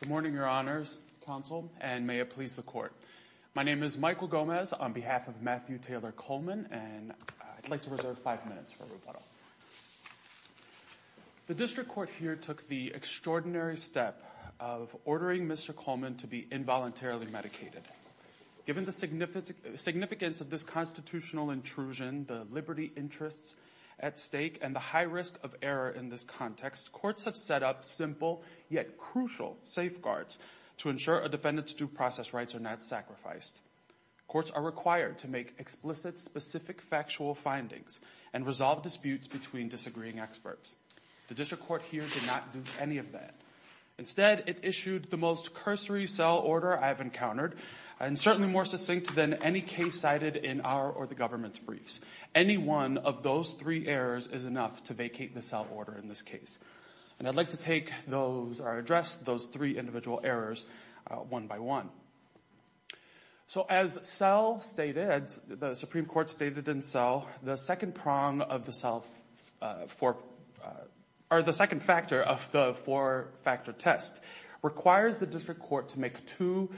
Good morning, your honors, counsel, and may it please the court. My name is Michael Gomez on behalf of Matthew Taylor Coleman, and I'd like to reserve five minutes for rebuttal. The district court here took the extraordinary step of ordering Mr. Coleman to be involuntarily medicated. Given the significance of this constitutional intrusion, the liberty interests at stake, and the high risk of error in this context, courts have set up simple yet crucial safeguards to ensure a defendant's due process rights are not sacrificed. Courts are required to make explicit specific factual findings and resolve disputes between disagreeing experts. The district court here did not do any of that. Instead, it issued the most cursory cell order I've encountered, and certainly more succinct than any case cited in our or the government's briefs. Any one of those three errors is enough to vacate the cell order in this case. And I'd like to take those, or address those three individual errors one by one. So as cell stated, the Supreme Court stated in cell, the second prong of the cell, or the second factor of the four-factor test, requires the district court to make two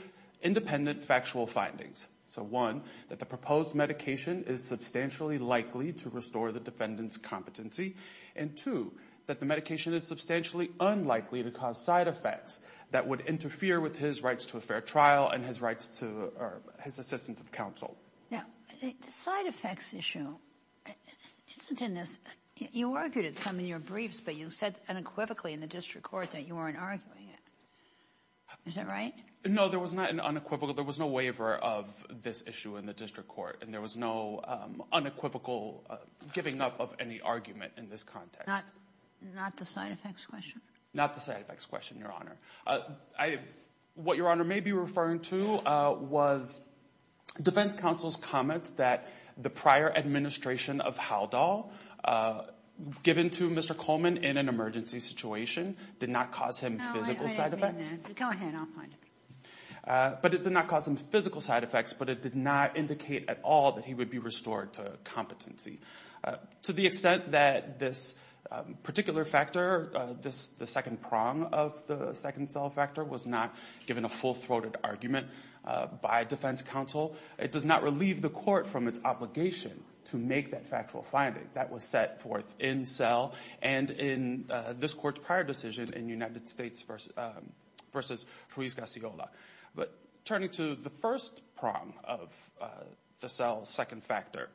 independent factual findings. So one, that the proposed medication is substantially likely to restore the defendant's competency. And two, that the medication is substantially unlikely to cause side effects that would interfere with his rights to a fair trial and his rights to, or his assistance of counsel. Now, the side effects issue isn't in this. You argued it some in your briefs, but you said unequivocally in the district court that you weren't arguing it. Is that right? No, there was not an unequivocal. There was no waiver of this issue in the district court, and there was no unequivocal giving up of any argument in this context. Not the side effects question? Not the side effects question, Your Honor. What Your Honor may be referring to was defense counsel's comments that the prior administration of Haldol given to Mr. Coleman in an emergency situation did not cause him physical side effects. Go ahead. I'll find it. But it did not cause him physical side effects, but it did not indicate at all that he would be restored to competency. To the extent that this particular factor, the second prong of the second cell factor, was not given a full-throated argument by defense counsel, it does not relieve the court from its obligation to make that factual finding that was set forth in cell and in this court's prior decision in United States v. Ruiz-Garciola. But turning to the first prong of the cell's second factor,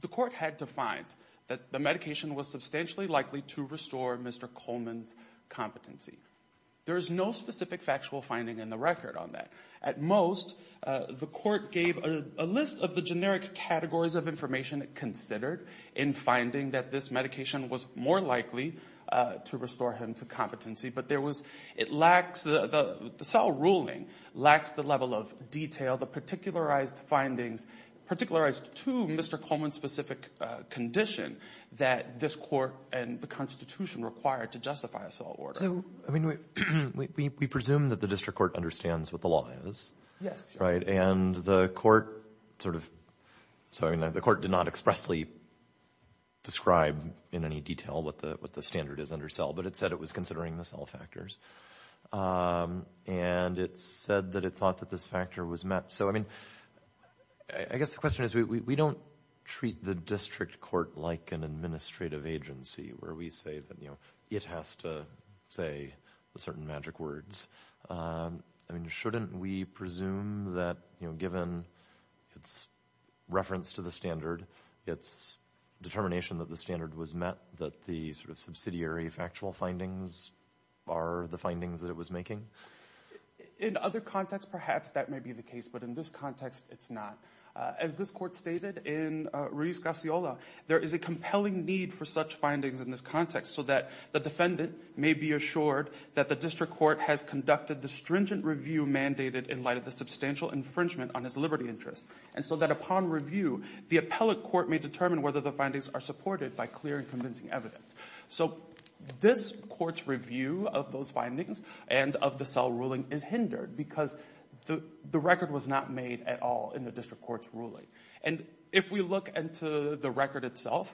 the court had defined that the medication was substantially likely to restore Mr. Coleman's competency. There is no specific factual finding in the record on that. At most, the court gave a list of the generic categories of information considered in finding that this medication was more likely to restore him to competency. But there was — it lacks — the cell ruling lacks the level of detail, the particularized findings, particularized to Mr. Coleman's specific condition that this court and the Constitution require to justify a cell order. So, I mean, we presume that the district court understands what the law is. Yes. Right? And the court sort of — so, I mean, the court did not expressly describe in any detail what the — what the standard is under cell, but it said it was considering the cell factors. And it said that it thought that this factor was met. So, I mean, I guess the question is, we don't treat the district court like an administrative agency where we say that, you know, it has to say certain magic words. I mean, shouldn't we presume that, you know, given its reference to the standard, its determination that the standard was met, that the sort of subsidiary factual findings are the findings that it was making? In other contexts, perhaps that may be the case, but in this context, it's not. As this court stated in Ruiz-Garciola, there is a compelling need for such findings in this context so that the defendant may be assured that the district court has conducted the stringent review mandated in light of the substantial infringement on his liberty interests, and so that upon review, the appellate court may determine whether the findings are supported by clear and convincing evidence. So, this court's review of those findings and of the cell ruling is hindered because the record was not made at all in the district court's ruling. And if we look into the record itself,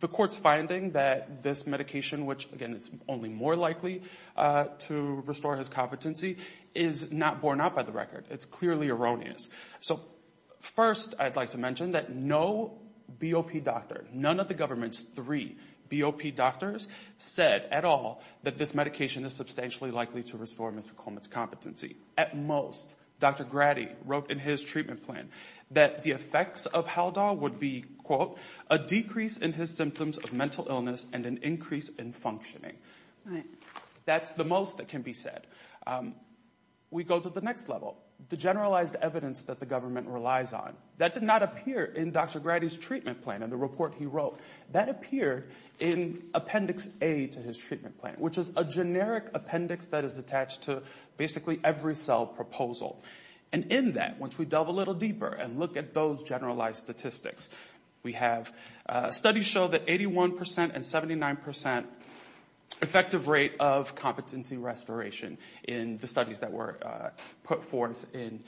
the court's finding that this medication, which, again, is only more likely to restore his competency, is not borne out by the record. It's clearly erroneous. So first, I'd like to mention that no BOP doctor, none of the government's three BOP doctors said at all that this medication is substantially likely to restore Mr. Coleman's At most, Dr. Grady wrote in his treatment plan that the effects of Haldol would be, quote, a decrease in his symptoms of mental illness and an increase in functioning. That's the most that can be said. We go to the next level, the generalized evidence that the government relies on. That did not appear in Dr. Grady's treatment plan, in the report he wrote. That appeared in Appendix A to his treatment plan, which is a generic appendix that is attached to basically every cell proposal. And in that, once we delve a little deeper and look at those generalized statistics, we have studies show that 81% and 79% effective rate of competency restoration in the studies that were put forth in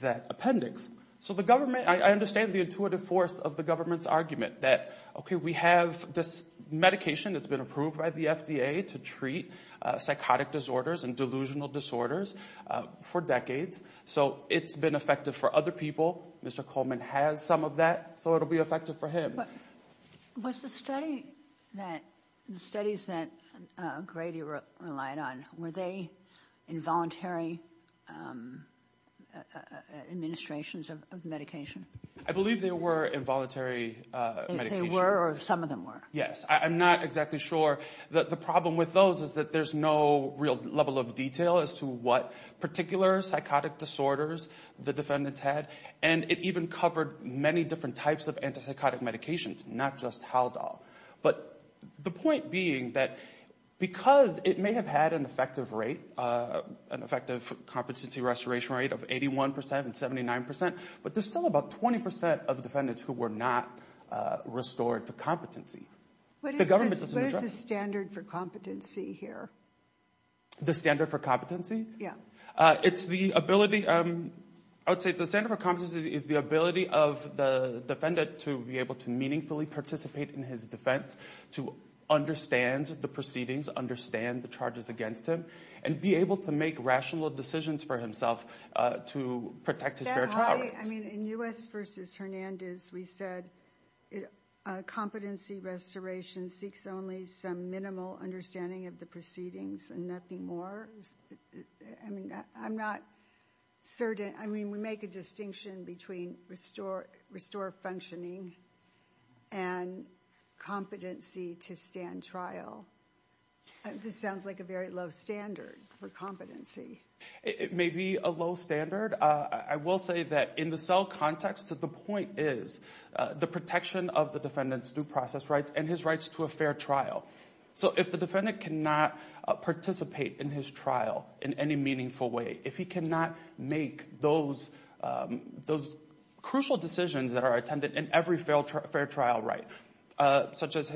that appendix. So the government, I understand the intuitive force of the government's argument that, okay, we have this medication that's been approved by the FDA to treat psychotic disorders and delusional disorders for decades, so it's been effective for other people. Mr. Coleman has some of that, so it'll be effective for him. Was the study that, the studies that Grady relied on, were they involuntary administrations of medication? I believe they were involuntary medications. They were, or some of them were? Yes. I'm not exactly sure. The problem with those is that there's no real level of detail as to what particular psychotic disorders the defendants had. And it even covered many different types of antipsychotic medications, not just Haldol. But the point being that because it may have had an effective rate, an effective competency restoration rate of 81% and 79%, but there's still about 20% of defendants who were not restored to competency. What is the standard for competency here? The standard for competency? Yeah. It's the ability, I would say the standard for competency is the ability of the defendant to be able to meaningfully participate in his defense, to understand the proceedings, understand the charges against him, and be able to make rational decisions for himself to protect his fair trial rights. I mean, in U.S. v. Hernandez, we said competency restoration seeks only some minimal understanding of the proceedings and nothing more. I mean, I'm not certain, I mean, we make a distinction between restore functioning and competency to stand trial. This sounds like a very low standard for competency. It may be a low standard. I will say that in the cell context, the point is the protection of the defendant's due process rights and his rights to a fair trial. So if the defendant cannot participate in his trial in any meaningful way, if he cannot make those crucial decisions that are attended in every fair trial right, such as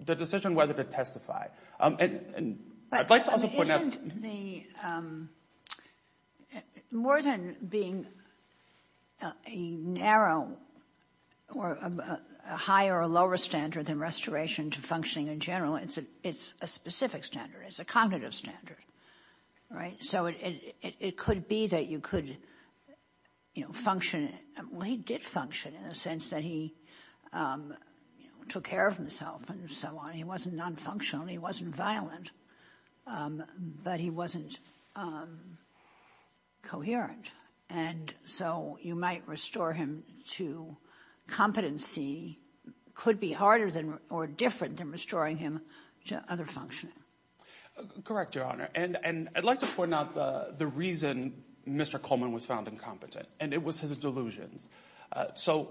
the decision whether to testify. I'd like to also point out... But isn't the, more than being a narrow or a higher or lower standard than restoration to functioning in general, it's a specific standard, it's a cognitive standard, right? So it could be that you could, you know, function, well, he did function in a sense that he took care of himself and so on. He wasn't non-functional, he wasn't violent, but he wasn't coherent. And so you might restore him to competency, could be harder than or different than restoring him to other functioning. Correct, Your Honor. And I'd like to point out the reason Mr. Coleman was found incompetent, and it was his delusions. So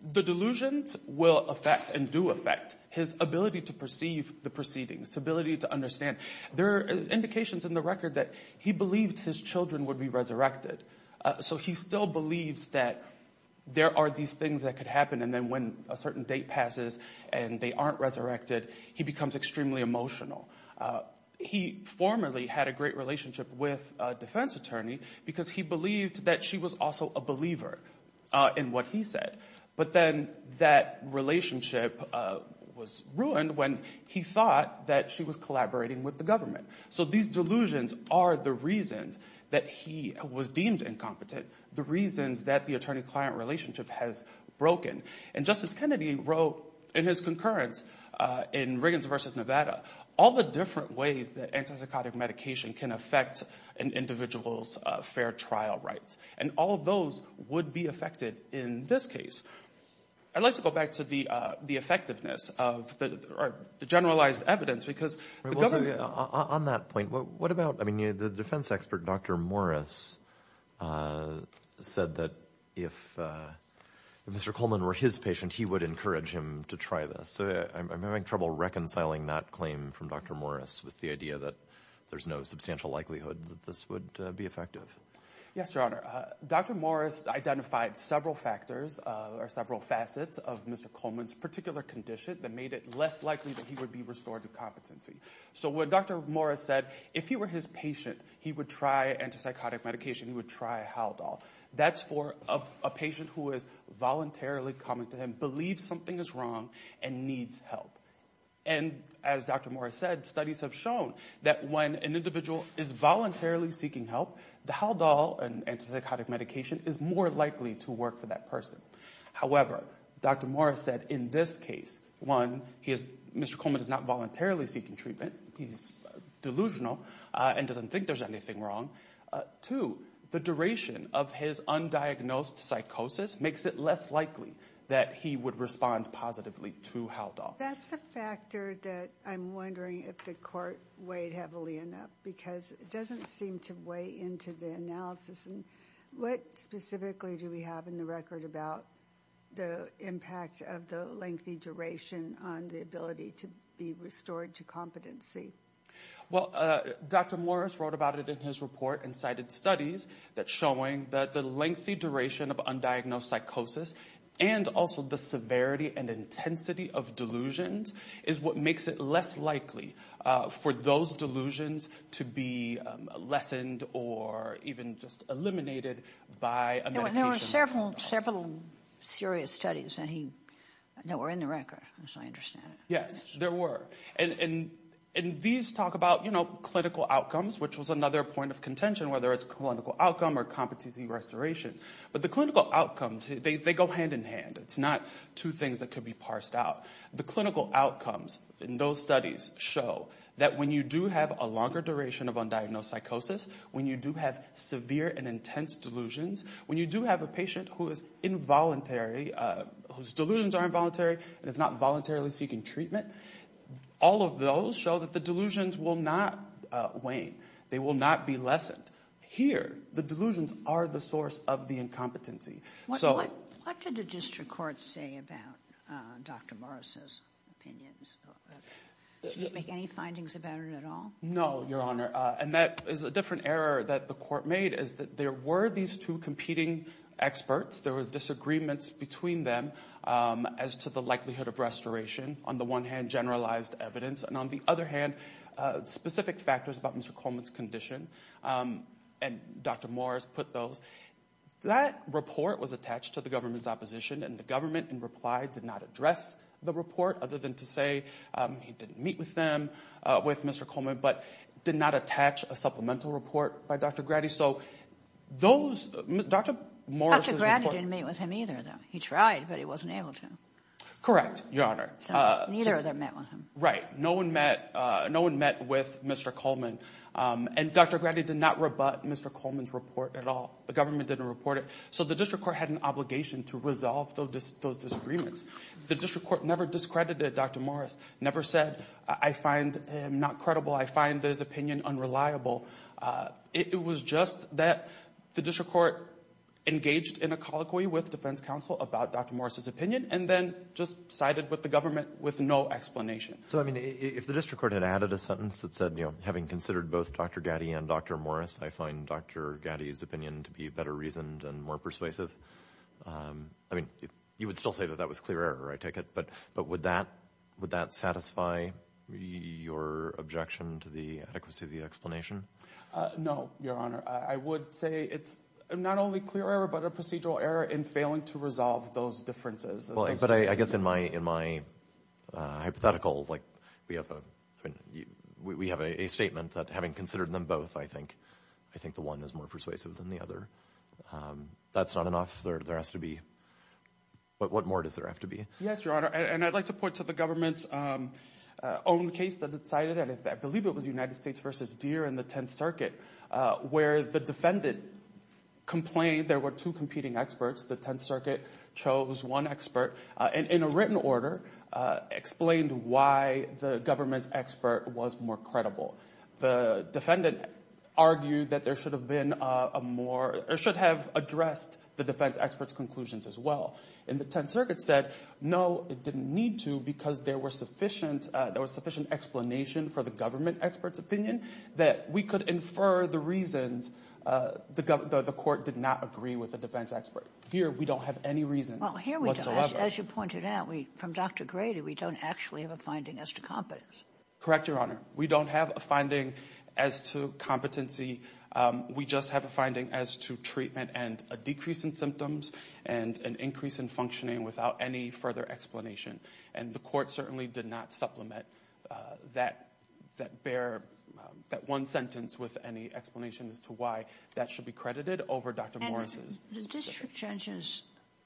the delusions will affect and do affect his ability to perceive the proceedings, ability to understand. There are indications in the record that he believed his children would be resurrected. So he still believes that there are these things that could happen, and then when a certain date passes and they aren't resurrected, he becomes extremely emotional. He formerly had a great relationship with a defense attorney because he believed that she was also a believer in what he said. But then that relationship was ruined when he thought that she was collaborating with the government. So these delusions are the reasons that he was deemed incompetent, the reasons that the attorney-client relationship has broken. And Justice Kennedy wrote in his concurrence in Riggins v. Nevada all the different ways that antipsychotic medication can affect an individual's fair trial rights. And all of those would be affected in this case. I'd like to go back to the effectiveness of the generalized evidence because the government On that point, what about, I mean, the defense expert, Dr. Morris, said that if Mr. Coleman were his patient, he would encourage him to try this. So I'm having trouble reconciling that claim from Dr. Morris with the idea that there's no substantial likelihood that this would be effective. Yes, Your Honor. Dr. Morris identified several factors or several facets of Mr. Coleman's particular condition that made it less likely that he would be restored to competency. So what Dr. Morris said, if he were his patient, he would try antipsychotic medication, he would try Haldol. That's for a patient who is voluntarily coming to him, believes something is wrong, and needs help. And as Dr. Morris said, studies have shown that when an individual is voluntarily seeking help, the Haldol, an antipsychotic medication, is more likely to work for that person. However, Dr. Morris said in this case, one, Mr. Coleman is not voluntarily seeking treatment. He's delusional and doesn't think there's anything wrong. Two, the duration of his undiagnosed psychosis makes it less likely that he would respond positively to Haldol. That's a factor that I'm wondering if the court weighed heavily enough, because it doesn't seem to weigh into the analysis. What specifically do we have in the record about the impact of the lengthy duration on the ability to be restored to competency? Well, Dr. Morris wrote about it in his report and cited studies that showing that the lengthy duration of undiagnosed psychosis and also the severity and intensity of delusions is what makes it less likely for those delusions to be lessened or even just eliminated by a medication. There were several serious studies that were in the record, as I understand it. Yes, there were. And these talk about clinical outcomes, which was another point of contention, whether it's clinical outcome or competency restoration. But the clinical outcomes, they go hand in hand. It's not two things that could be parsed out. The clinical outcomes in those studies show that when you do have a longer duration of undiagnosed psychosis, when you do have severe and intense delusions, when you do have a who is involuntary, whose delusions are involuntary and is not voluntarily seeking treatment, all of those show that the delusions will not wane. They will not be lessened. Here, the delusions are the source of the incompetency. What did the district court say about Dr. Morris's opinions? Did you make any findings about it at all? No, Your Honor. And that is a different error that the court made, is that there were these two competing experts. There were disagreements between them as to the likelihood of restoration, on the one hand, generalized evidence, and on the other hand, specific factors about Mr. Coleman's condition. And Dr. Morris put those. That report was attached to the government's opposition, and the government, in reply, did not address the report, other than to say he didn't meet with them, with Mr. Coleman, but did not attach a supplemental report by Dr. Grady. So those, Dr. Morris's report- Dr. Grady didn't meet with him either, though. He tried, but he wasn't able to. Correct, Your Honor. So neither of them met with him. Right. No one met with Mr. Coleman. And Dr. Grady did not rebut Mr. Coleman's report at all. The government didn't report it. So the district court had an obligation to resolve those disagreements. The district court never discredited Dr. Morris, never said, I find him not credible, I find his opinion unreliable. It was just that the district court engaged in a colloquy with defense counsel about Dr. Morris's opinion, and then just sided with the government with no explanation. So I mean, if the district court had added a sentence that said, you know, having considered both Dr. Grady and Dr. Morris, I find Dr. Grady's opinion to be better reasoned and more persuasive, I mean, you would still say that that was clear error, I take it. But would that satisfy your objection to the adequacy of the explanation? No, Your Honor. I would say it's not only clear error, but a procedural error in failing to resolve those differences. But I guess in my hypothetical, like, we have a statement that having considered them both, I think the one is more persuasive than the other. That's not enough. There has to be, what more does there have to be? Yes, Your Honor. And I'd like to point to the government's own case that it cited, and I believe it was United States v. Deere in the Tenth Circuit, where the defendant complained there were two competing experts. The Tenth Circuit chose one expert, and in a written order, explained why the government's expert was more credible. The defendant argued that there should have been a more, or should have addressed the defense expert's conclusions as well. And the Tenth Circuit said, no, it didn't need to, because there was sufficient explanation for the government expert's opinion that we could infer the reasons the court did not agree with the defense expert. Here, we don't have any reasons whatsoever. Well, here we don't. As you pointed out, from Dr. Grady, we don't actually have a finding as to competence. Correct, Your Honor. We don't have a finding as to competency. We just have a finding as to treatment and a decrease in symptoms, and an increase in functioning without any further explanation. And the court certainly did not supplement that one sentence with any explanation as to why that should be credited over Dr. Morris's. The district judge's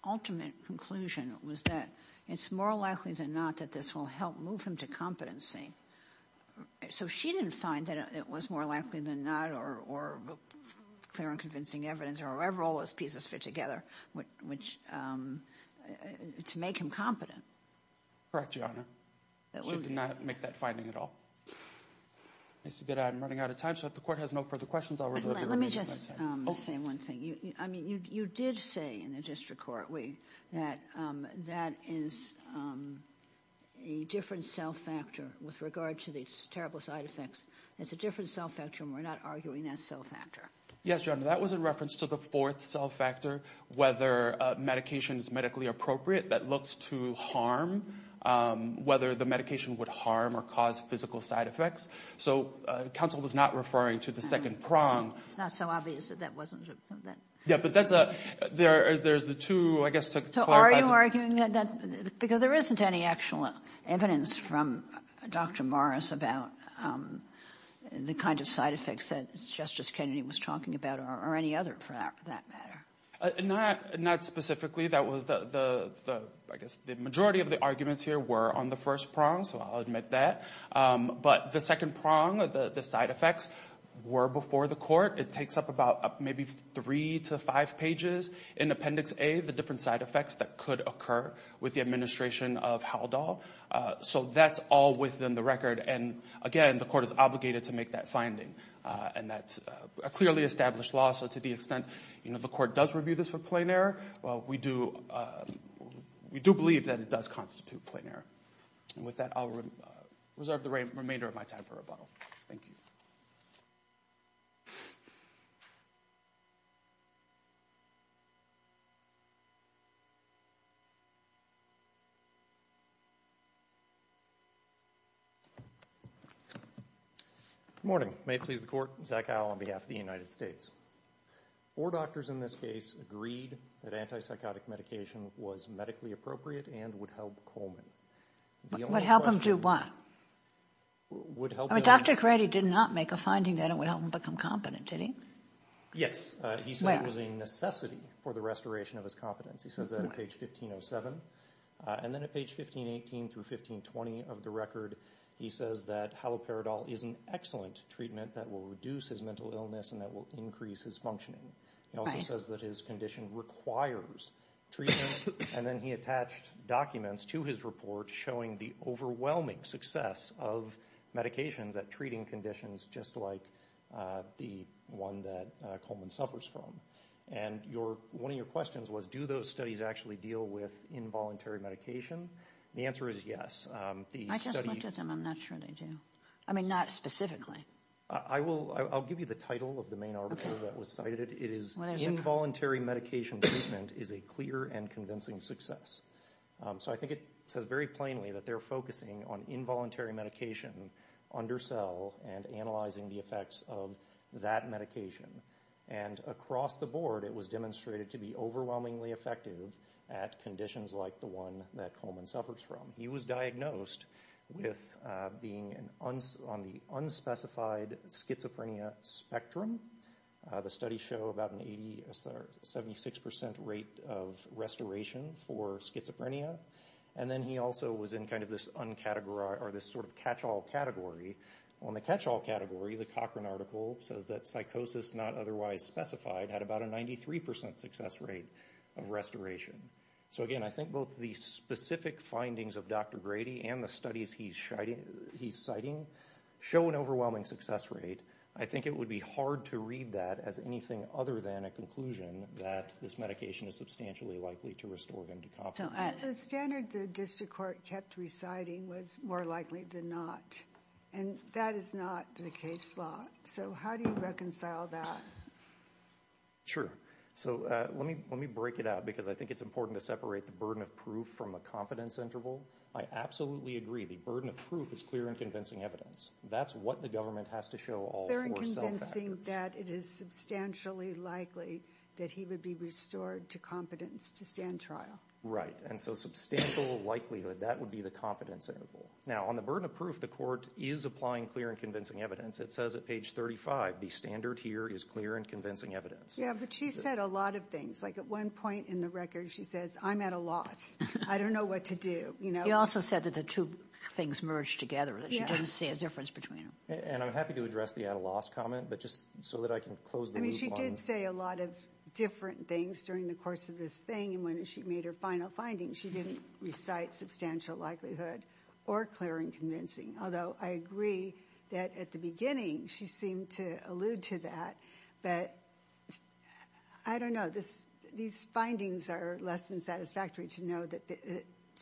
ultimate conclusion was that it's more likely than not that this will help move him to competency. So she didn't find that it was more likely than not, or clear and convincing evidence, or however all those pieces fit together, which, to make him competent. Correct, Your Honor. She did not make that finding at all. I see that I'm running out of time, so if the court has no further questions, I'll reserve the remaining time. Let me just say one thing. I mean, you did say in the district court that that is a different cell factor with regard to these terrible side effects. It's a different cell factor, and we're not arguing that cell factor. Yes, Your Honor. That was in reference to the fourth cell factor, whether a medication is medically appropriate that looks to harm, whether the medication would harm or cause physical side effects. So counsel was not referring to the second prong. It's not so obvious that that wasn't. Yeah, but that's a, there's the two, I guess, to clarify. Are you arguing that, because there isn't any actual evidence from Dr. Morris about the kind of side effects that Justice Kennedy was talking about, or any other for that matter. Not specifically. That was the, I guess, the majority of the arguments here were on the first prong, so I'll admit that. But the second prong, the side effects, were before the court. It takes up about maybe three to five pages in Appendix A, the different side effects that could occur with the administration of Haldol. So that's all within the record, and again, the court is obligated to make that finding. And that's a clearly established law, so to the extent the court does review this for plain error, we do believe that it does constitute plain error. And with that, I'll reserve the remainder of my time for rebuttal. Thank you. Good morning. May it please the court, Zach Howell on behalf of the United States. Four doctors in this case agreed that antipsychotic medication was medically appropriate and would help Coleman. The only question... Would help him do what? Would help him... I mean, Dr. Crady did not make a finding that it would help him become competent, did he? Yes. Where? He said it was a necessity for the restoration of his competence. He says that on page 1507. And then at page 1518 through 1520 of the record, he says that Haloperidol is an excellent treatment that will reduce his mental illness and that will increase his functioning. He also says that his condition requires treatment, and then he attached documents to his report showing the overwhelming success of medications at treating conditions just like the one that Coleman suffers from. And one of your questions was, do those studies actually deal with involuntary medication? The answer is yes. I just looked at them. I'm not sure they do. I mean, not specifically. I'll give you the title of the main article that was cited. It is, Involuntary Medication Treatment is a Clear and Convincing Success. So I think it says very plainly that they're focusing on involuntary medication under cell and analyzing the effects of that medication. And across the board, it was demonstrated to be overwhelmingly effective at conditions like the one that Coleman suffers from. He was diagnosed with being on the unspecified schizophrenia spectrum. The studies show about a 76% rate of restoration for schizophrenia. And then he also was in kind of this sort of catch-all category. On the catch-all category, the Cochran article says that psychosis not otherwise specified had about a 93% success rate of restoration. So again, I think both the specific findings of Dr. Grady and the studies he's citing show an overwhelming success rate. I think it would be hard to read that as anything other than a conclusion that this medication is substantially likely to restore him to confidence. The standard the district court kept reciting was more likely than not. And that is not the case law. So how do you reconcile that? Sure. So let me break it out because I think it's important to separate the burden of proof from the confidence interval. I absolutely agree. The burden of proof is clear and convincing evidence. That's what the government has to show all four cell factors. Clear and convincing that it is substantially likely that he would be restored to confidence to stand trial. Right. And so substantial likelihood. That would be the confidence interval. Now, on the burden of proof, the court is applying clear and convincing evidence. It says at page 35, the standard here is clear and convincing evidence. Yeah, but she said a lot of things. Like at one point in the record, she says, I'm at a loss. I don't know what to do. She also said that the two things merged together. She doesn't see a difference between them. And I'm happy to address the at-a-loss comment, but just so that I can close the loop on... I mean, she did say a lot of different things during the course of this thing and when she made her final findings, she didn't recite substantial likelihood or clear and convincing. Although I agree that at the beginning, she seemed to allude to that. But I don't know. These findings are less than satisfactory to know that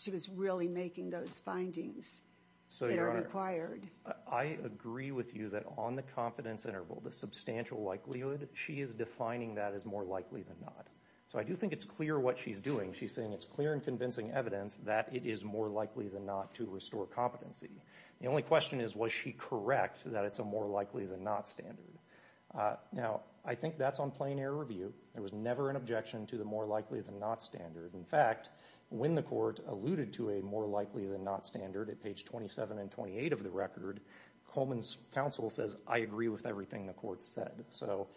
she was really making those findings that are required. I agree with you that on the confidence interval, the substantial likelihood, she is defining that as more likely than not. So I do think it's clear what she's doing. She's saying it's clear and convincing evidence that it is more likely than not to restore competency. The only question is, was she correct that it's a more likely than not standard? Now, I think that's on plain error review. There was never an objection to the more likely than not standard. In fact, when the court alluded to a more likely than not standard at page 27 and 28 of the record, Coleman's counsel says, I agree with everything the court said. So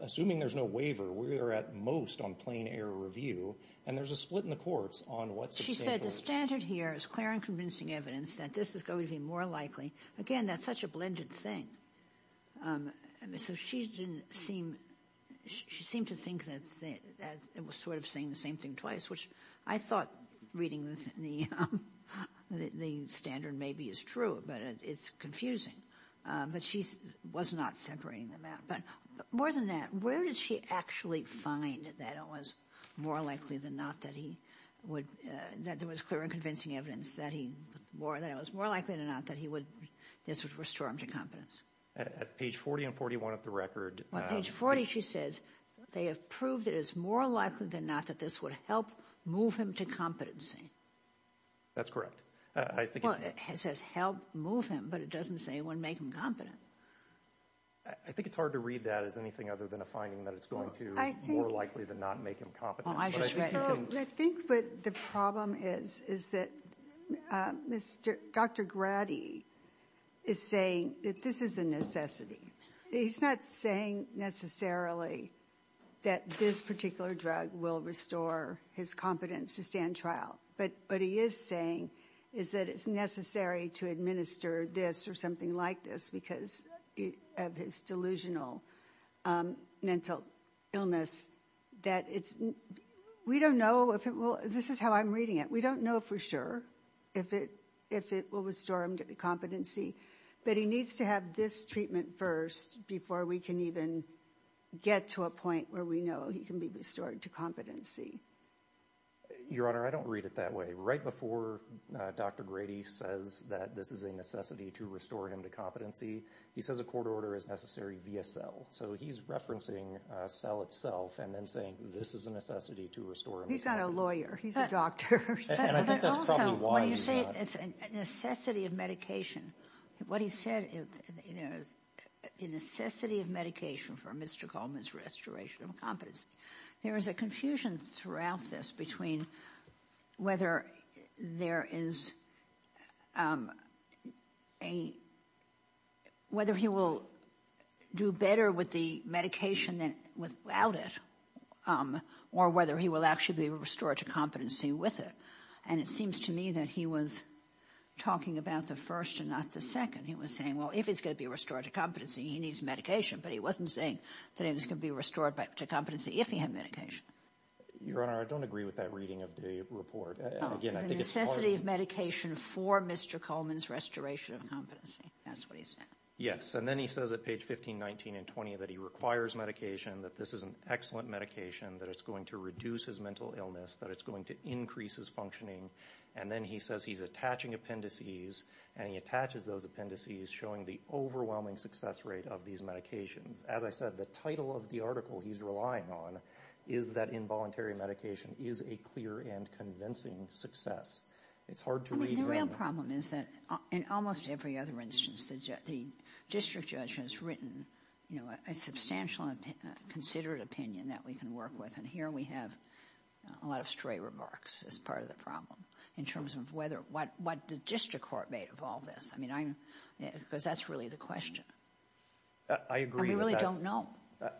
assuming there's no waiver, we are at most on plain error review. And there's a split in the courts on what's the standard. She said the standard here is clear and convincing evidence that this is going to be more likely. Again, that's such a blended thing. So she didn't seem to think that it was sort of saying the same thing twice, which I thought reading the standard maybe is true, but it's confusing. But she was not separating them out. But more than that, where did she actually find that it was more likely than not that he would – that there was clear and convincing evidence that he – that it was more likely than not that he would – this would restore him to competence? At page 40 and 41 of the record. On page 40, she says they have proved it is more likely than not that this would help move him to competency. That's correct. Well, it says help move him, but it doesn't say it would make him competent. I think it's hard to read that as anything other than a finding that it's going to be more likely than not make him competent. I think what the problem is, is that Dr. Grady is saying that this is a necessity. He's not saying necessarily that this particular drug will restore his competence to stand trial. But what he is saying is that it's necessary to administer this or something like this because of his delusional mental illness. That it's – we don't know if it will – this is how I'm reading it. We don't know for sure if it will restore him to competency. But he needs to have this treatment first before we can even get to a point where we know he can be restored to competency. Your Honor, I don't read it that way. Right before Dr. Grady says that this is a necessity to restore him to competency, he says a court order is necessary via cell. So he's referencing cell itself and then saying this is a necessity to restore him to competency. He's not a lawyer. He's a doctor. And I think that's probably why he's not – When you say it's a necessity of medication, what he said is the necessity of medication for Mr. Coleman's restoration of competency. There is a confusion throughout this between whether there is a – whether he will do better with the medication than without it or whether he will actually be restored to competency with it. And it seems to me that he was talking about the first and not the second. He was saying, well, if he's going to be restored to competency, he needs medication. But he wasn't saying that he was going to be restored to competency if he had medication. Your Honor, I don't agree with that reading of the report. Again, I think it's part – The necessity of medication for Mr. Coleman's restoration of competency. That's what he said. Yes, and then he says at page 15, 19, and 20 that he requires medication, that this is an excellent medication, that it's going to reduce his mental illness, that it's going to increase his functioning. And then he says he's attaching appendices and he attaches those appendices showing the overwhelming success rate of these medications. As I said, the title of the article he's relying on is that involuntary medication is a clear and convincing success. It's hard to read, Your Honor. I mean, the real problem is that in almost every other instance the district judge has written, you know, a substantial and considered opinion that we can work with. And here we have a lot of stray remarks as part of the problem in terms of whether – what the district court made of all this. I mean, I'm – because that's really the question. I agree with that. And we really don't know.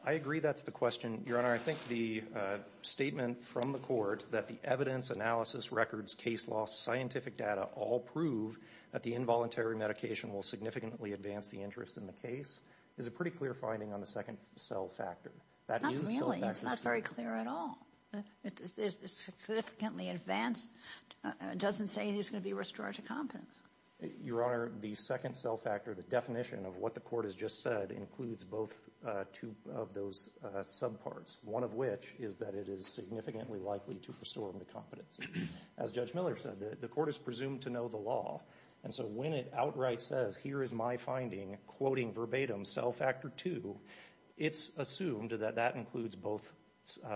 I agree that's the question, Your Honor. I think the statement from the court that the evidence, analysis, records, case law, scientific data all prove that the involuntary medication will significantly advance the interests in the case is a pretty clear finding on the second cell factor. Not really. It's not very clear at all. It's significantly advanced. It doesn't say he's going to be restored to competence. Your Honor, the second cell factor, the definition of what the court has just said includes both two of those subparts, one of which is that it is significantly likely to restore him to competence. As Judge Miller said, the court is presumed to know the law. And so when it outright says, here is my finding, quoting verbatim, cell factor two, it's assumed that that includes both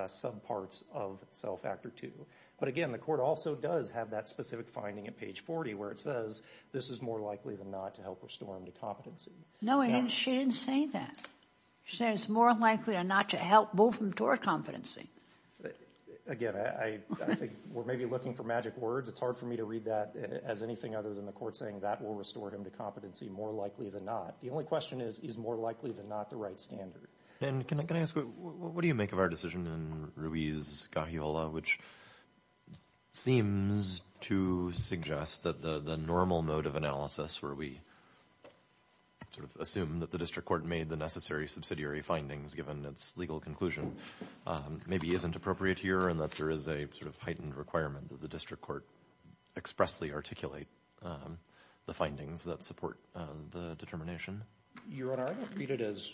subparts of cell factor two. But again, the court also does have that specific finding at page 40 where it says this is more likely than not to help restore him to competency. No, she didn't say that. She said it's more likely than not to help move him toward competency. Again, I think we're maybe looking for magic words. It's hard for me to read that as anything other than the court saying that will restore him to competency more likely than not. The only question is, is more likely than not the right standard. And can I ask, what do you make of our decision in Ruiz-Garriola, which seems to suggest that the normal mode of analysis where we sort of assume that the district court made the necessary subsidiary findings given its legal conclusion maybe isn't appropriate here and that there is a sort of heightened requirement that the district court expressly articulate the findings that support the determination? Your Honor, I don't read it as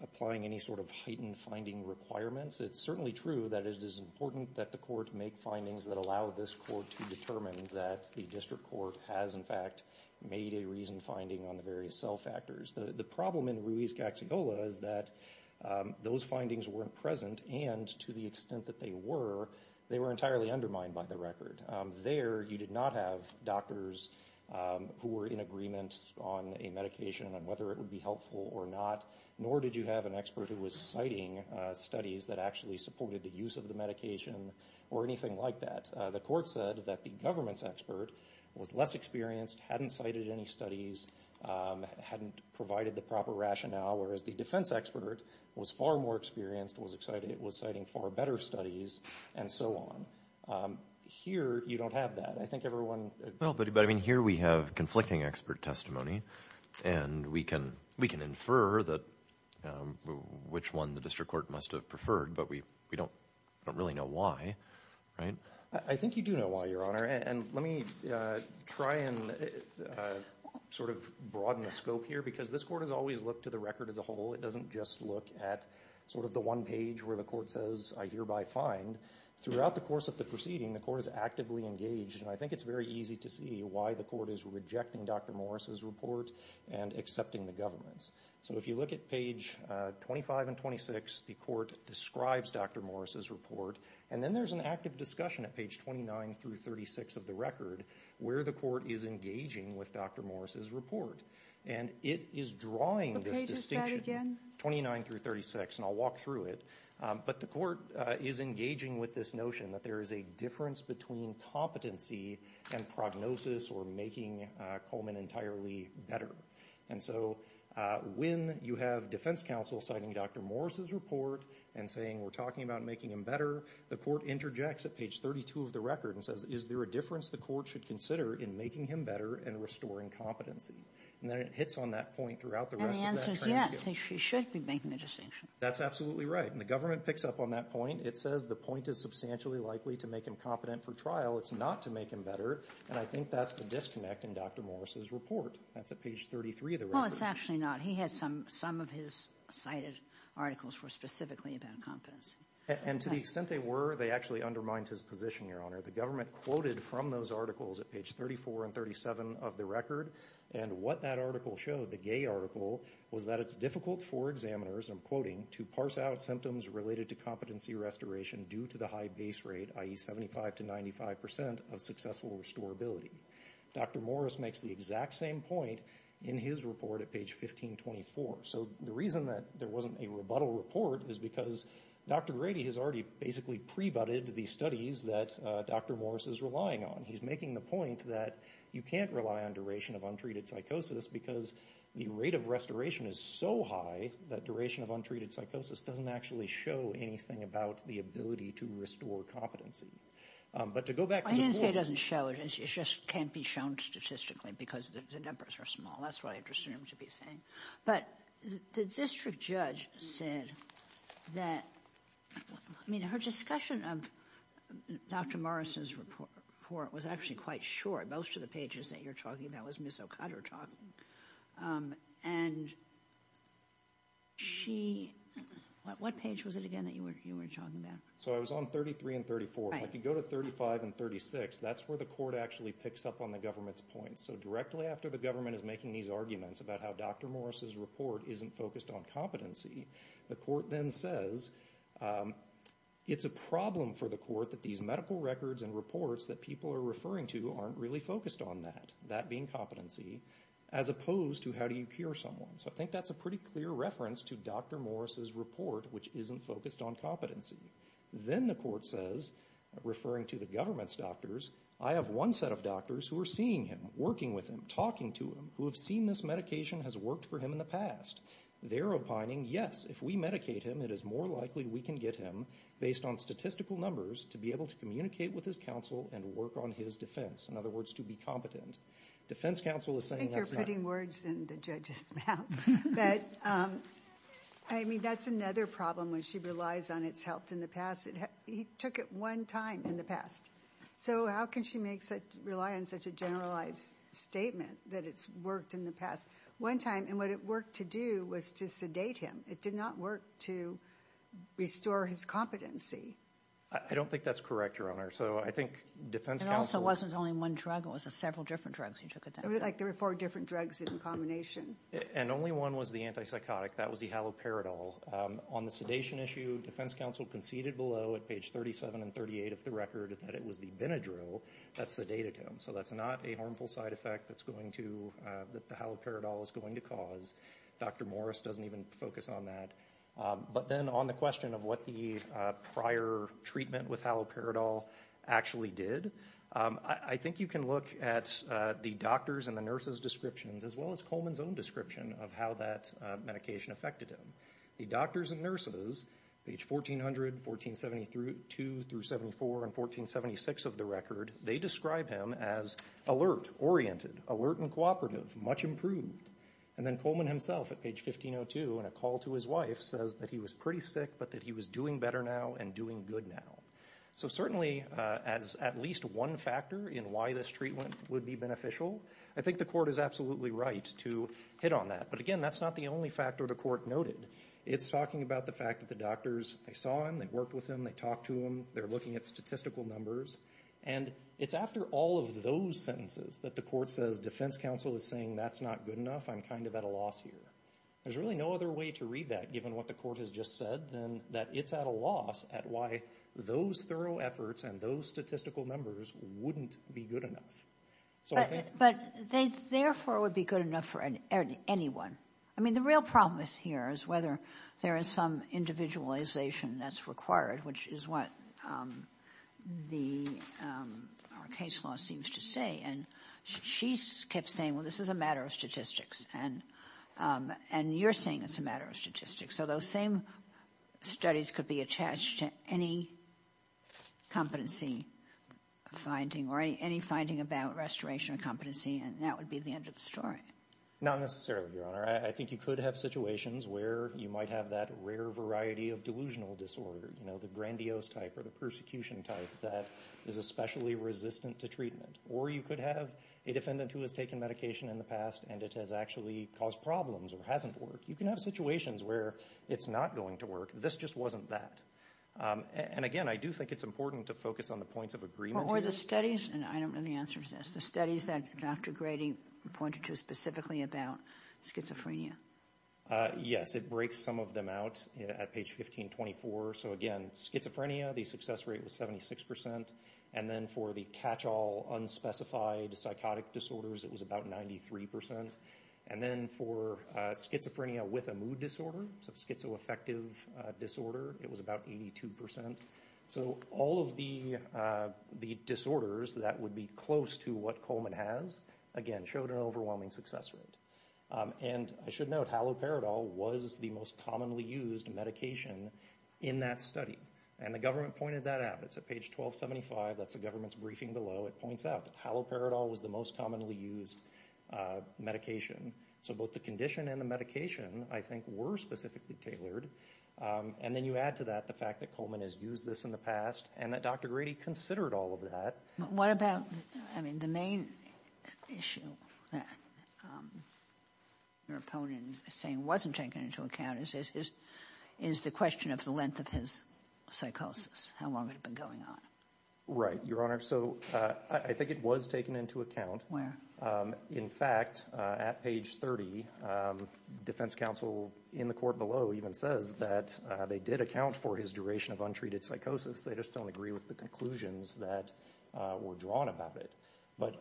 applying any sort of heightened finding requirements. It's certainly true that it is important that the court make findings that allow this court to determine that the district court has, in fact, made a reasoned finding on the various cell factors. The problem in Ruiz-Garriola is that those findings weren't present, and to the extent that they were, they were entirely undermined by the record. There, you did not have doctors who were in agreement on a medication and whether it would be helpful or not, nor did you have an expert who was citing studies that actually supported the use of the medication or anything like that. The court said that the government's expert was less experienced, hadn't cited any studies, hadn't provided the proper rationale, whereas the defense expert was far more experienced, was citing far better studies, and so on. Here, you don't have that. I think everyone... Well, but I mean, here we have conflicting expert testimony and we can infer which one the district court must have preferred, but we don't really know why, right? I think you do know why, Your Honor, and let me try and sort of broaden the scope here because this court has always looked to the record as a whole. It doesn't just look at sort of the one page where the court says, I hereby find. Throughout the course of the proceeding, the court is actively engaged, and I think it's very easy to see why the court is rejecting Dr. Morris's report and accepting the government's. So if you look at page 25 and 26, the court describes Dr. Morris's report, and then there's an active discussion at page 29 through 36 of the record where the court is engaging with Dr. Morris's report, and it is drawing this distinction... What page is that again? 29 through 36, and I'll walk through it, but the court is engaging with this notion that there is a difference between competency and prognosis or making Coleman entirely better, and so when you have defense counsel citing Dr. Morris's report and saying we're talking about making him better, the court interjects at page 32 of the record and says, is there a difference the court should consider in making him better and restoring competency? And then it hits on that point throughout the rest of that transcript. And the answer is yes, he should be making the distinction. That's absolutely right, and the government picks up on that point. It says the point is substantially likely to make him competent for trial. It's not to make him better, and I think that's the disconnect in Dr. Morris's report. That's at page 33 of the record. Well, it's actually not. He had some of his cited articles for specifically about competency. And to the extent they were, they actually undermined his position, Your Honor. The government quoted from those articles at page 34 and 37 of the record, and what that article showed, the gay article, was that it's difficult for examiners, and I'm quoting, to parse out symptoms related to competency restoration due to the high base rate, i.e., 75% to 95% of successful restorability. Dr. Morris makes the exact same point in his report at page 1524. So the reason that there wasn't a rebuttal report is because Dr. Grady has already basically pre-butted the studies that Dr. Morris is relying on. He's making the point that you can't rely on duration of untreated psychosis because the rate of restoration is so high that duration of untreated psychosis doesn't actually show anything about the ability to restore competency. But to go back to the point... I didn't say it doesn't show it. It just can't be shown statistically because the numbers are small. That's what I interested him to be saying. But the district judge said that... I mean, her discussion of Dr. Morris's report was actually quite short. Most of the pages that you're talking about was Ms. O'Connor talking. And she... What page was it again that you were talking about? So I was on 33 and 34. If I could go to 35 and 36, that's where the court actually picks up on the government's points. So directly after the government is making these arguments about how Dr. Morris's report isn't focused on competency, the court then says, it's a problem for the court that these medical records and reports that people are referring to aren't really focused on that, that being competency, as opposed to how do you cure someone. So I think that's a pretty clear reference to Dr. Morris's report, which isn't focused on competency. Then the court says, referring to the government's doctors, I have one set of doctors who are seeing him, working with him, talking to him, who have seen this medication has worked for him in the past. They're opining, yes, if we medicate him, it is more likely we can get him, based on statistical numbers, to be able to communicate with his counsel and work on his defense. In other words, to be competent. Defense counsel is saying that's not... I think you're putting words in the judge's mouth. But, I mean, that's another problem when she relies on it's helped in the past. He took it one time in the past. So how can she make such... rely on such a generalized statement that it's worked in the past? One time, and what it worked to do was to sedate him. It did not work to restore his competency. I don't think that's correct, Your Honor. So I think defense counsel... It also wasn't only one drug. It was several different drugs he took at that time. There were four different drugs in combination. And only one was the antipsychotic. That was the haloperidol. On the sedation issue, defense counsel conceded below at page 37 and 38 of the record that it was the Benadryl that sedated him. So that's not a harmful side effect that's going to... that the haloperidol is going to cause. Dr. Morris doesn't even focus on that. But then on the question of what the prior treatment with haloperidol actually did, I think you can look at the doctor's and the nurse's descriptions as well as Coleman's own description of how that medication affected him. The doctors and nurses, page 1400, 1472-74, and 1476 of the record, they describe him as alert, oriented, alert and cooperative, much improved. And then Coleman himself at page 1502 in a call to his wife says that he was pretty sick but that he was doing better now and doing good now. So certainly as at least one factor in why this treatment would be beneficial, I think the court is absolutely right to hit on that. But again, that's not the only factor the court noted. It's talking about the fact that the doctors, they saw him, they worked with him, they talked to him, they're looking at statistical numbers. And it's after all of those sentences that the court says, defense counsel is saying that's not good enough, I'm kind of at a loss here. There's really no other way to read that given what the court has just said than that it's at a loss at why those thorough efforts and those statistical numbers wouldn't be good enough. But they therefore would be good enough for anyone. I mean the real problem here is whether there is some individualization that's required which is what our case law seems to say. And she kept saying, well this is a matter of statistics. And you're saying it's a matter of statistics. So those same studies could be attached to any competency finding or any finding about restoration of competency and that would be the end of the story. Not necessarily, Your Honor. I think you could have situations where you might have that rare variety of delusional disorder. You know, the grandiose type or the persecution type that is especially resistant to treatment. Or you could have a defendant who has taken medication in the past and it has actually caused problems or hasn't worked. You can have situations where it's not going to work. This just wasn't that. And again, I do think it's important to focus on the points of agreement Or the studies and I don't know the answer to this. The studies that Dr. Grady pointed to specifically about schizophrenia. Yes. It breaks some of them out at page 1524. So again, schizophrenia, the success rate was 76%. And then for the catch-all unspecified psychotic disorders it was about 93%. And then for schizophrenia with a mood disorder, so schizoaffective disorder, it was about 82%. So all of the disorders that would be close to what Coleman has, again, showed an overwhelming success rate. And I should note haloperidol was the most commonly used medication in that study. And the government pointed that out. It's at page 1275. That's the government's briefing below. It points out that haloperidol was the most commonly used medication. So both the condition and the medication I think were specifically tailored. And then you add to that the fact that Coleman has used this in the past and that Dr. Grady considered all of that. But what about I mean the main issue that your opponent is saying wasn't taken into account is the question of the length of his psychosis. How long had it been going on? Right, Your Honor. So I think it was taken into account. Where? In fact, at page 30, defense counsel in the court below even says that they did account for his duration of untreated psychosis. They just don't agree with the conclusions that were drawn about it. But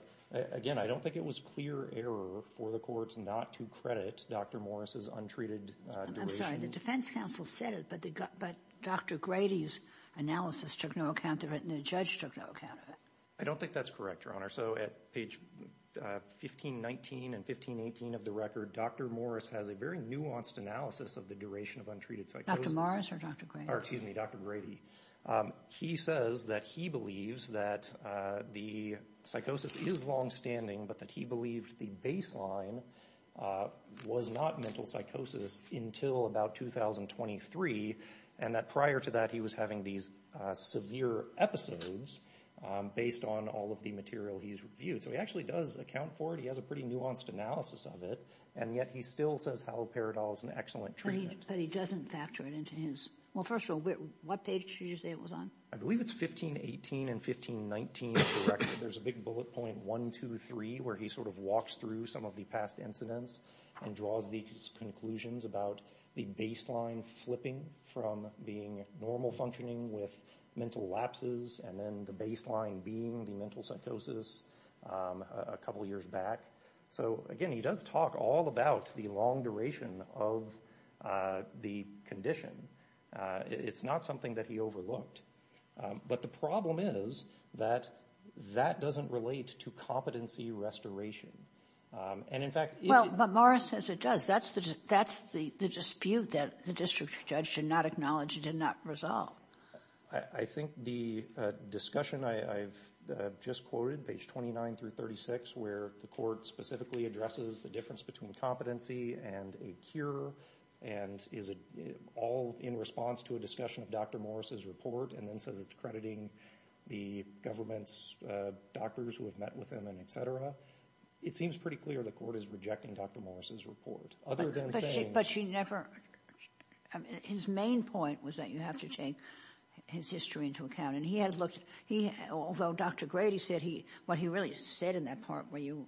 again, I don't think it was clear error for the courts not to credit Dr. Morris's untreated duration. I'm sorry. The defense counsel said it but Dr. Grady's analysis took no account of it and the judge took no account of it. I don't think that's correct, Your Honor. So at page 1519 and 1518 of the record, Dr. Morris has a very nuanced analysis of the duration of untreated psychosis. Dr. Morris or Dr. Grady? Excuse me, Dr. Grady. He says that he believes that the psychosis is longstanding but that he believed the baseline was not mental psychosis until about 2023 and that prior to that he was having these severe episodes based on all of the material he's reviewed. So he actually does account for it. He has a pretty nuanced analysis of it and yet he still says haloperidol is an excellent treatment. But he doesn't factor it into his... Well, first of all, what page did you say it was on? I believe it's 1518 and 1519 of the record. There's a big bullet point one, two, three where he sort of walks through some of the past incidents and draws these conclusions about the baseline flipping from being normal functioning with mental lapses and then the baseline being the mental psychosis a couple years back. So, again, he does talk all about the long duration of the condition It's not something that he overlooked. But the problem is that that doesn't relate to competency restoration. And, in fact... Well, but Morris says it does. That's the dispute that the district judge did not acknowledge and did not resolve. I think the discussion I've just quoted, page 29 through 36 where the court specifically addresses the difference between competency and a cure and is it all in response to a discussion of Dr. Morris's report and then says it's crediting the government's doctors who have met with him and etc. It seems pretty clear the court is rejecting Dr. Morris's report other than saying... But she never... His main point was that you have to take his history into account and he had looked... Although Dr. Grady said he... What he really said in that part where you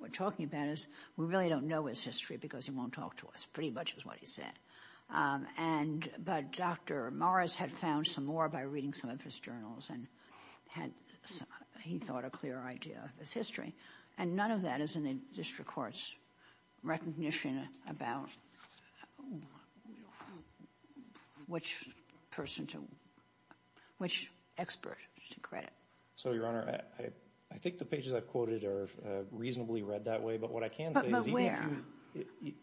were talking about is we really don't know his history because he won't talk to us pretty much is what he said. But Dr. Morris had found some more by reading some of his journals and had... He thought a clear idea of his history and none of that is in the district court's recognition about which person to... Which expert to credit. So, Your Honor, I think the pages I've quoted are reasonably read that way but what I can say is even if you...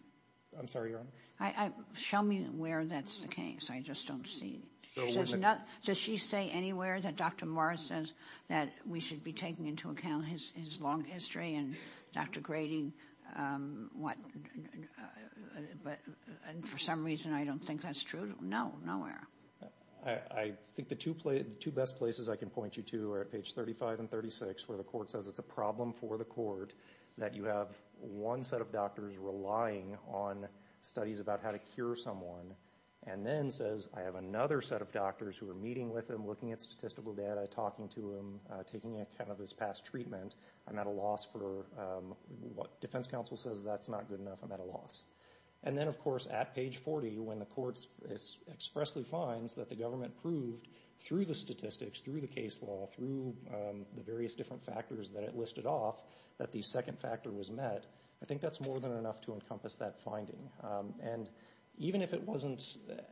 I'm sorry, Your Honor. I think the pages show me where that's the case. I just don't see... Does she say anywhere that Dr. Morris says that we should be taking into account his long history and Dr. Grady... And for some reason I don't think that's true? No. Nowhere. I think the two best places I can point you to are at page 35 and 36 where the court says it's a problem for the court that you have one set of doctors relying on studies about how to cure someone and then says I have another set of doctors who are meeting with him looking at statistical data talking to him taking account of his past treatment I'm at a loss for what defense counsel says that's not good enough I'm at a loss. And then of course at page 40 when the court expressly finds that the government proved through the statistics through the case law through the various different factors that it listed off that the second factor was met I think that's more than enough to encompass that finding and even if it wasn't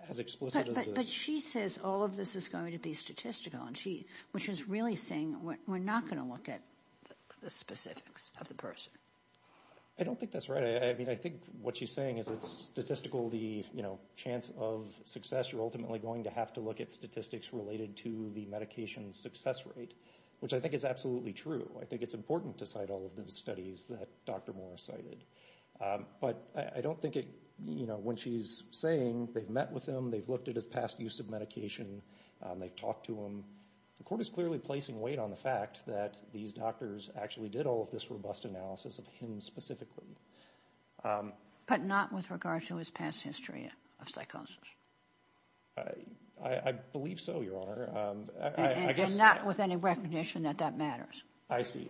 as explicit But she says all of this is going to be statistical which is really saying we're not going to look at the specifics of the person I don't think that's right I think what she's saying is it's statistical the chance of success you're ultimately going to have to look at statistics related to the medication success rate which I think is absolutely true I think it's important to cite all of the studies that Dr. Moore cited But I don't think when she's saying they've met with him they've looked at his past use of medication they've talked to him The court is clearly placing weight on the fact that these doctors actually did all of this robust analysis of him specifically But not with regard to his past history of psychosis I believe so Your Honor And not with any recognition that that matters I see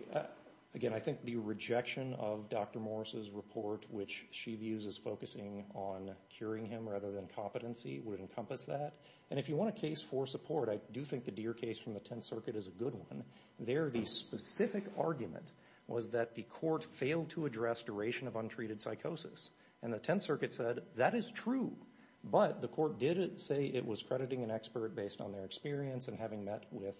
Again I think the rejection of Dr. Moore's report which she views as focusing on curing him rather than competency would encompass that And if you want a case for support I do think the Deere case from the Tenth Circuit is a good one There the specific argument was that the court failed to address duration of untreated psychosis And the Tenth Circuit said that is true But the court did say it was crediting an expert based on their experience and having met with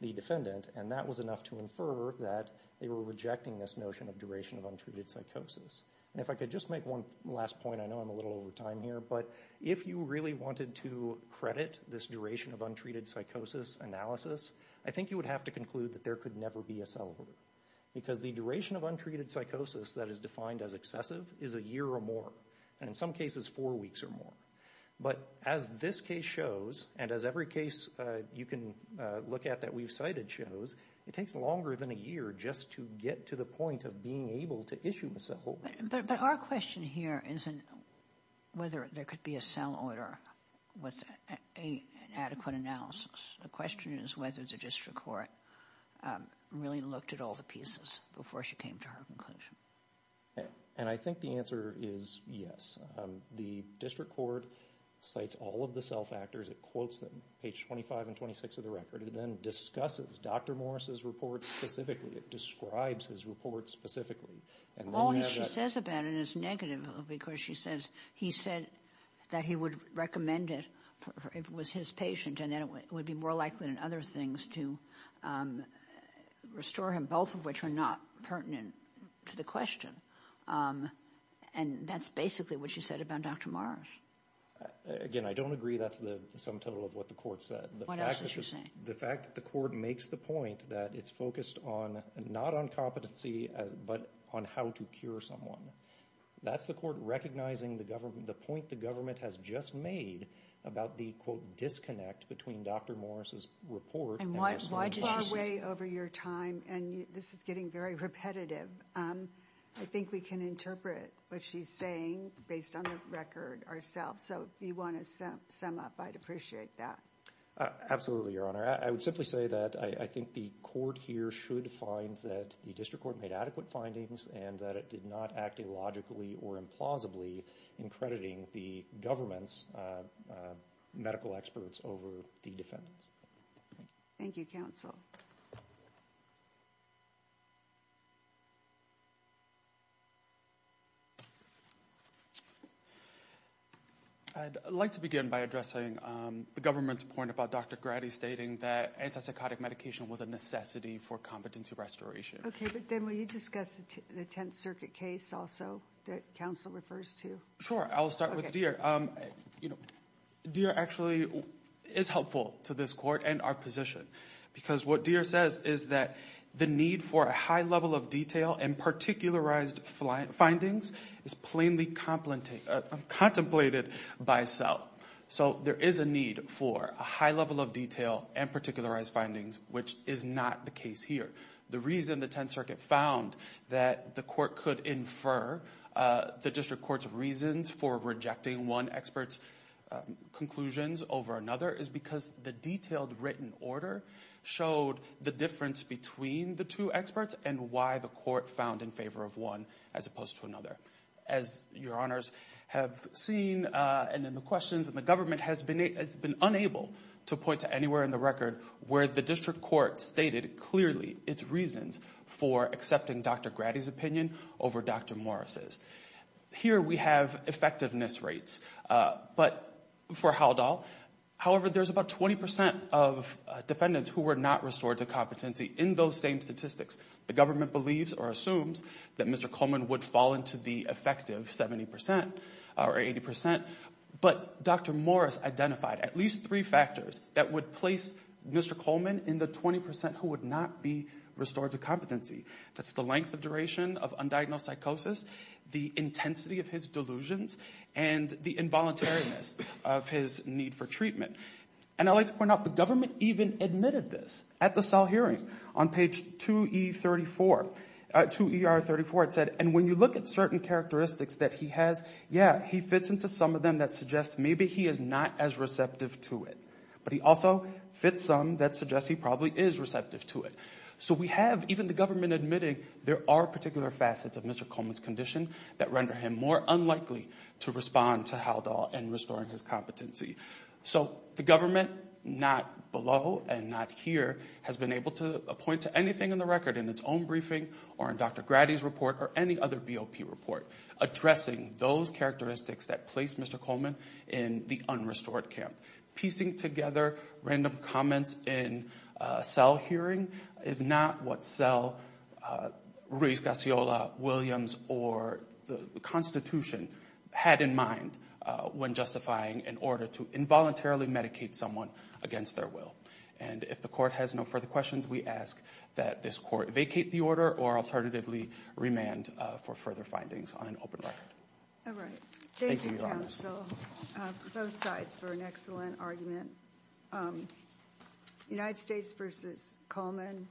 the defendant And that was enough to infer that they were rejecting this notion of duration of untreated psychosis And if I could just make one last point I know I'm a little over time here But if you really wanted to credit this duration of untreated psychosis analysis I think you would have to conclude that there could never be a cell order Because the duration of untreated psychosis that is defined as excessive is a year or more And in some cases four weeks or more But as this case shows and as every case you can look at that we've cited shows it takes longer than a year just to get to the point of being able to issue the cell order But our question here isn't whether there could be a cell order with an adequate analysis The question is whether the district court really looked at all the pieces before she came to her conclusion And I think the answer is yes The district court cites all of the cell factors it quotes them page 25 and 26 of the record it then discusses Dr. Morris's report specifically it describes his report specifically All she says about it is negative because she says he said that he would recommend it if it was his patient and it would be more likely than other things to restore him both of which are not pertinent to the question And that's basically what she said about Dr. Morris Again I don't agree that's the sum total of what the court said The fact that the court makes the point that it's focused on not on but on how to cure someone that's the court recognizing the point the government has just made about the quote disconnect between Dr. Morris's report And this is getting very repetitive I think we can interpret what she's saying based on the record ourselves So if you want to sum up I'd appreciate that Absolutely Your Honor I would simply say that I think the court here should find that the court made adequate findings and that it did not act illogically or implausibly in crediting the government's medical experts over the defendants Thank you counsel I'd like to begin by addressing the government's point about Dr. Grady stating that antipsychotic medication was a drug an individual It's not a drug a drug individual It's a drug for an individual Let me repeat Dr. Grady's court's reasons for rejecting one expert's over another is because the detailed written order showed the difference between the two experts and why the court found in favor of one as opposed to another. As your honors have seen, the government has been unable to point to anywhere in the record where the district court stated clearly its reasons for accepting Dr. Grady's opinion over Dr. Morris's. Here we have effectiveness rates. However, there's about 20% of defendants who were not restored to competency. The government assumes Mr. would fall into the effective 70% or 80%. Dr. Morris identified at least three factors that would place Mr. in the effective or 80%. The government admitted this at the cell hearing. When you look at certain characteristics that he has, yeah, he fits into some of them that suggest maybe he is not as receptive to it. But he also fits some that suggest he probably is receptive to it. So we have even the government admitting there are particular facets of Mr. Coleman's condition that render him more unlikely to respond to Haldol and restoring his competency. So the government, not below and not here, has been able to point to anything in the record in its own briefing or in Dr. Grady's report or any other BOP report addressing those characteristics that placed Mr. Coleman in the unrestored camp. Piecing together random comments in a hearing is not what this court vacate the order or remand for further findings. Thank you. Both sides for an excellent argument. United States versus Coleman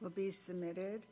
will be submitted.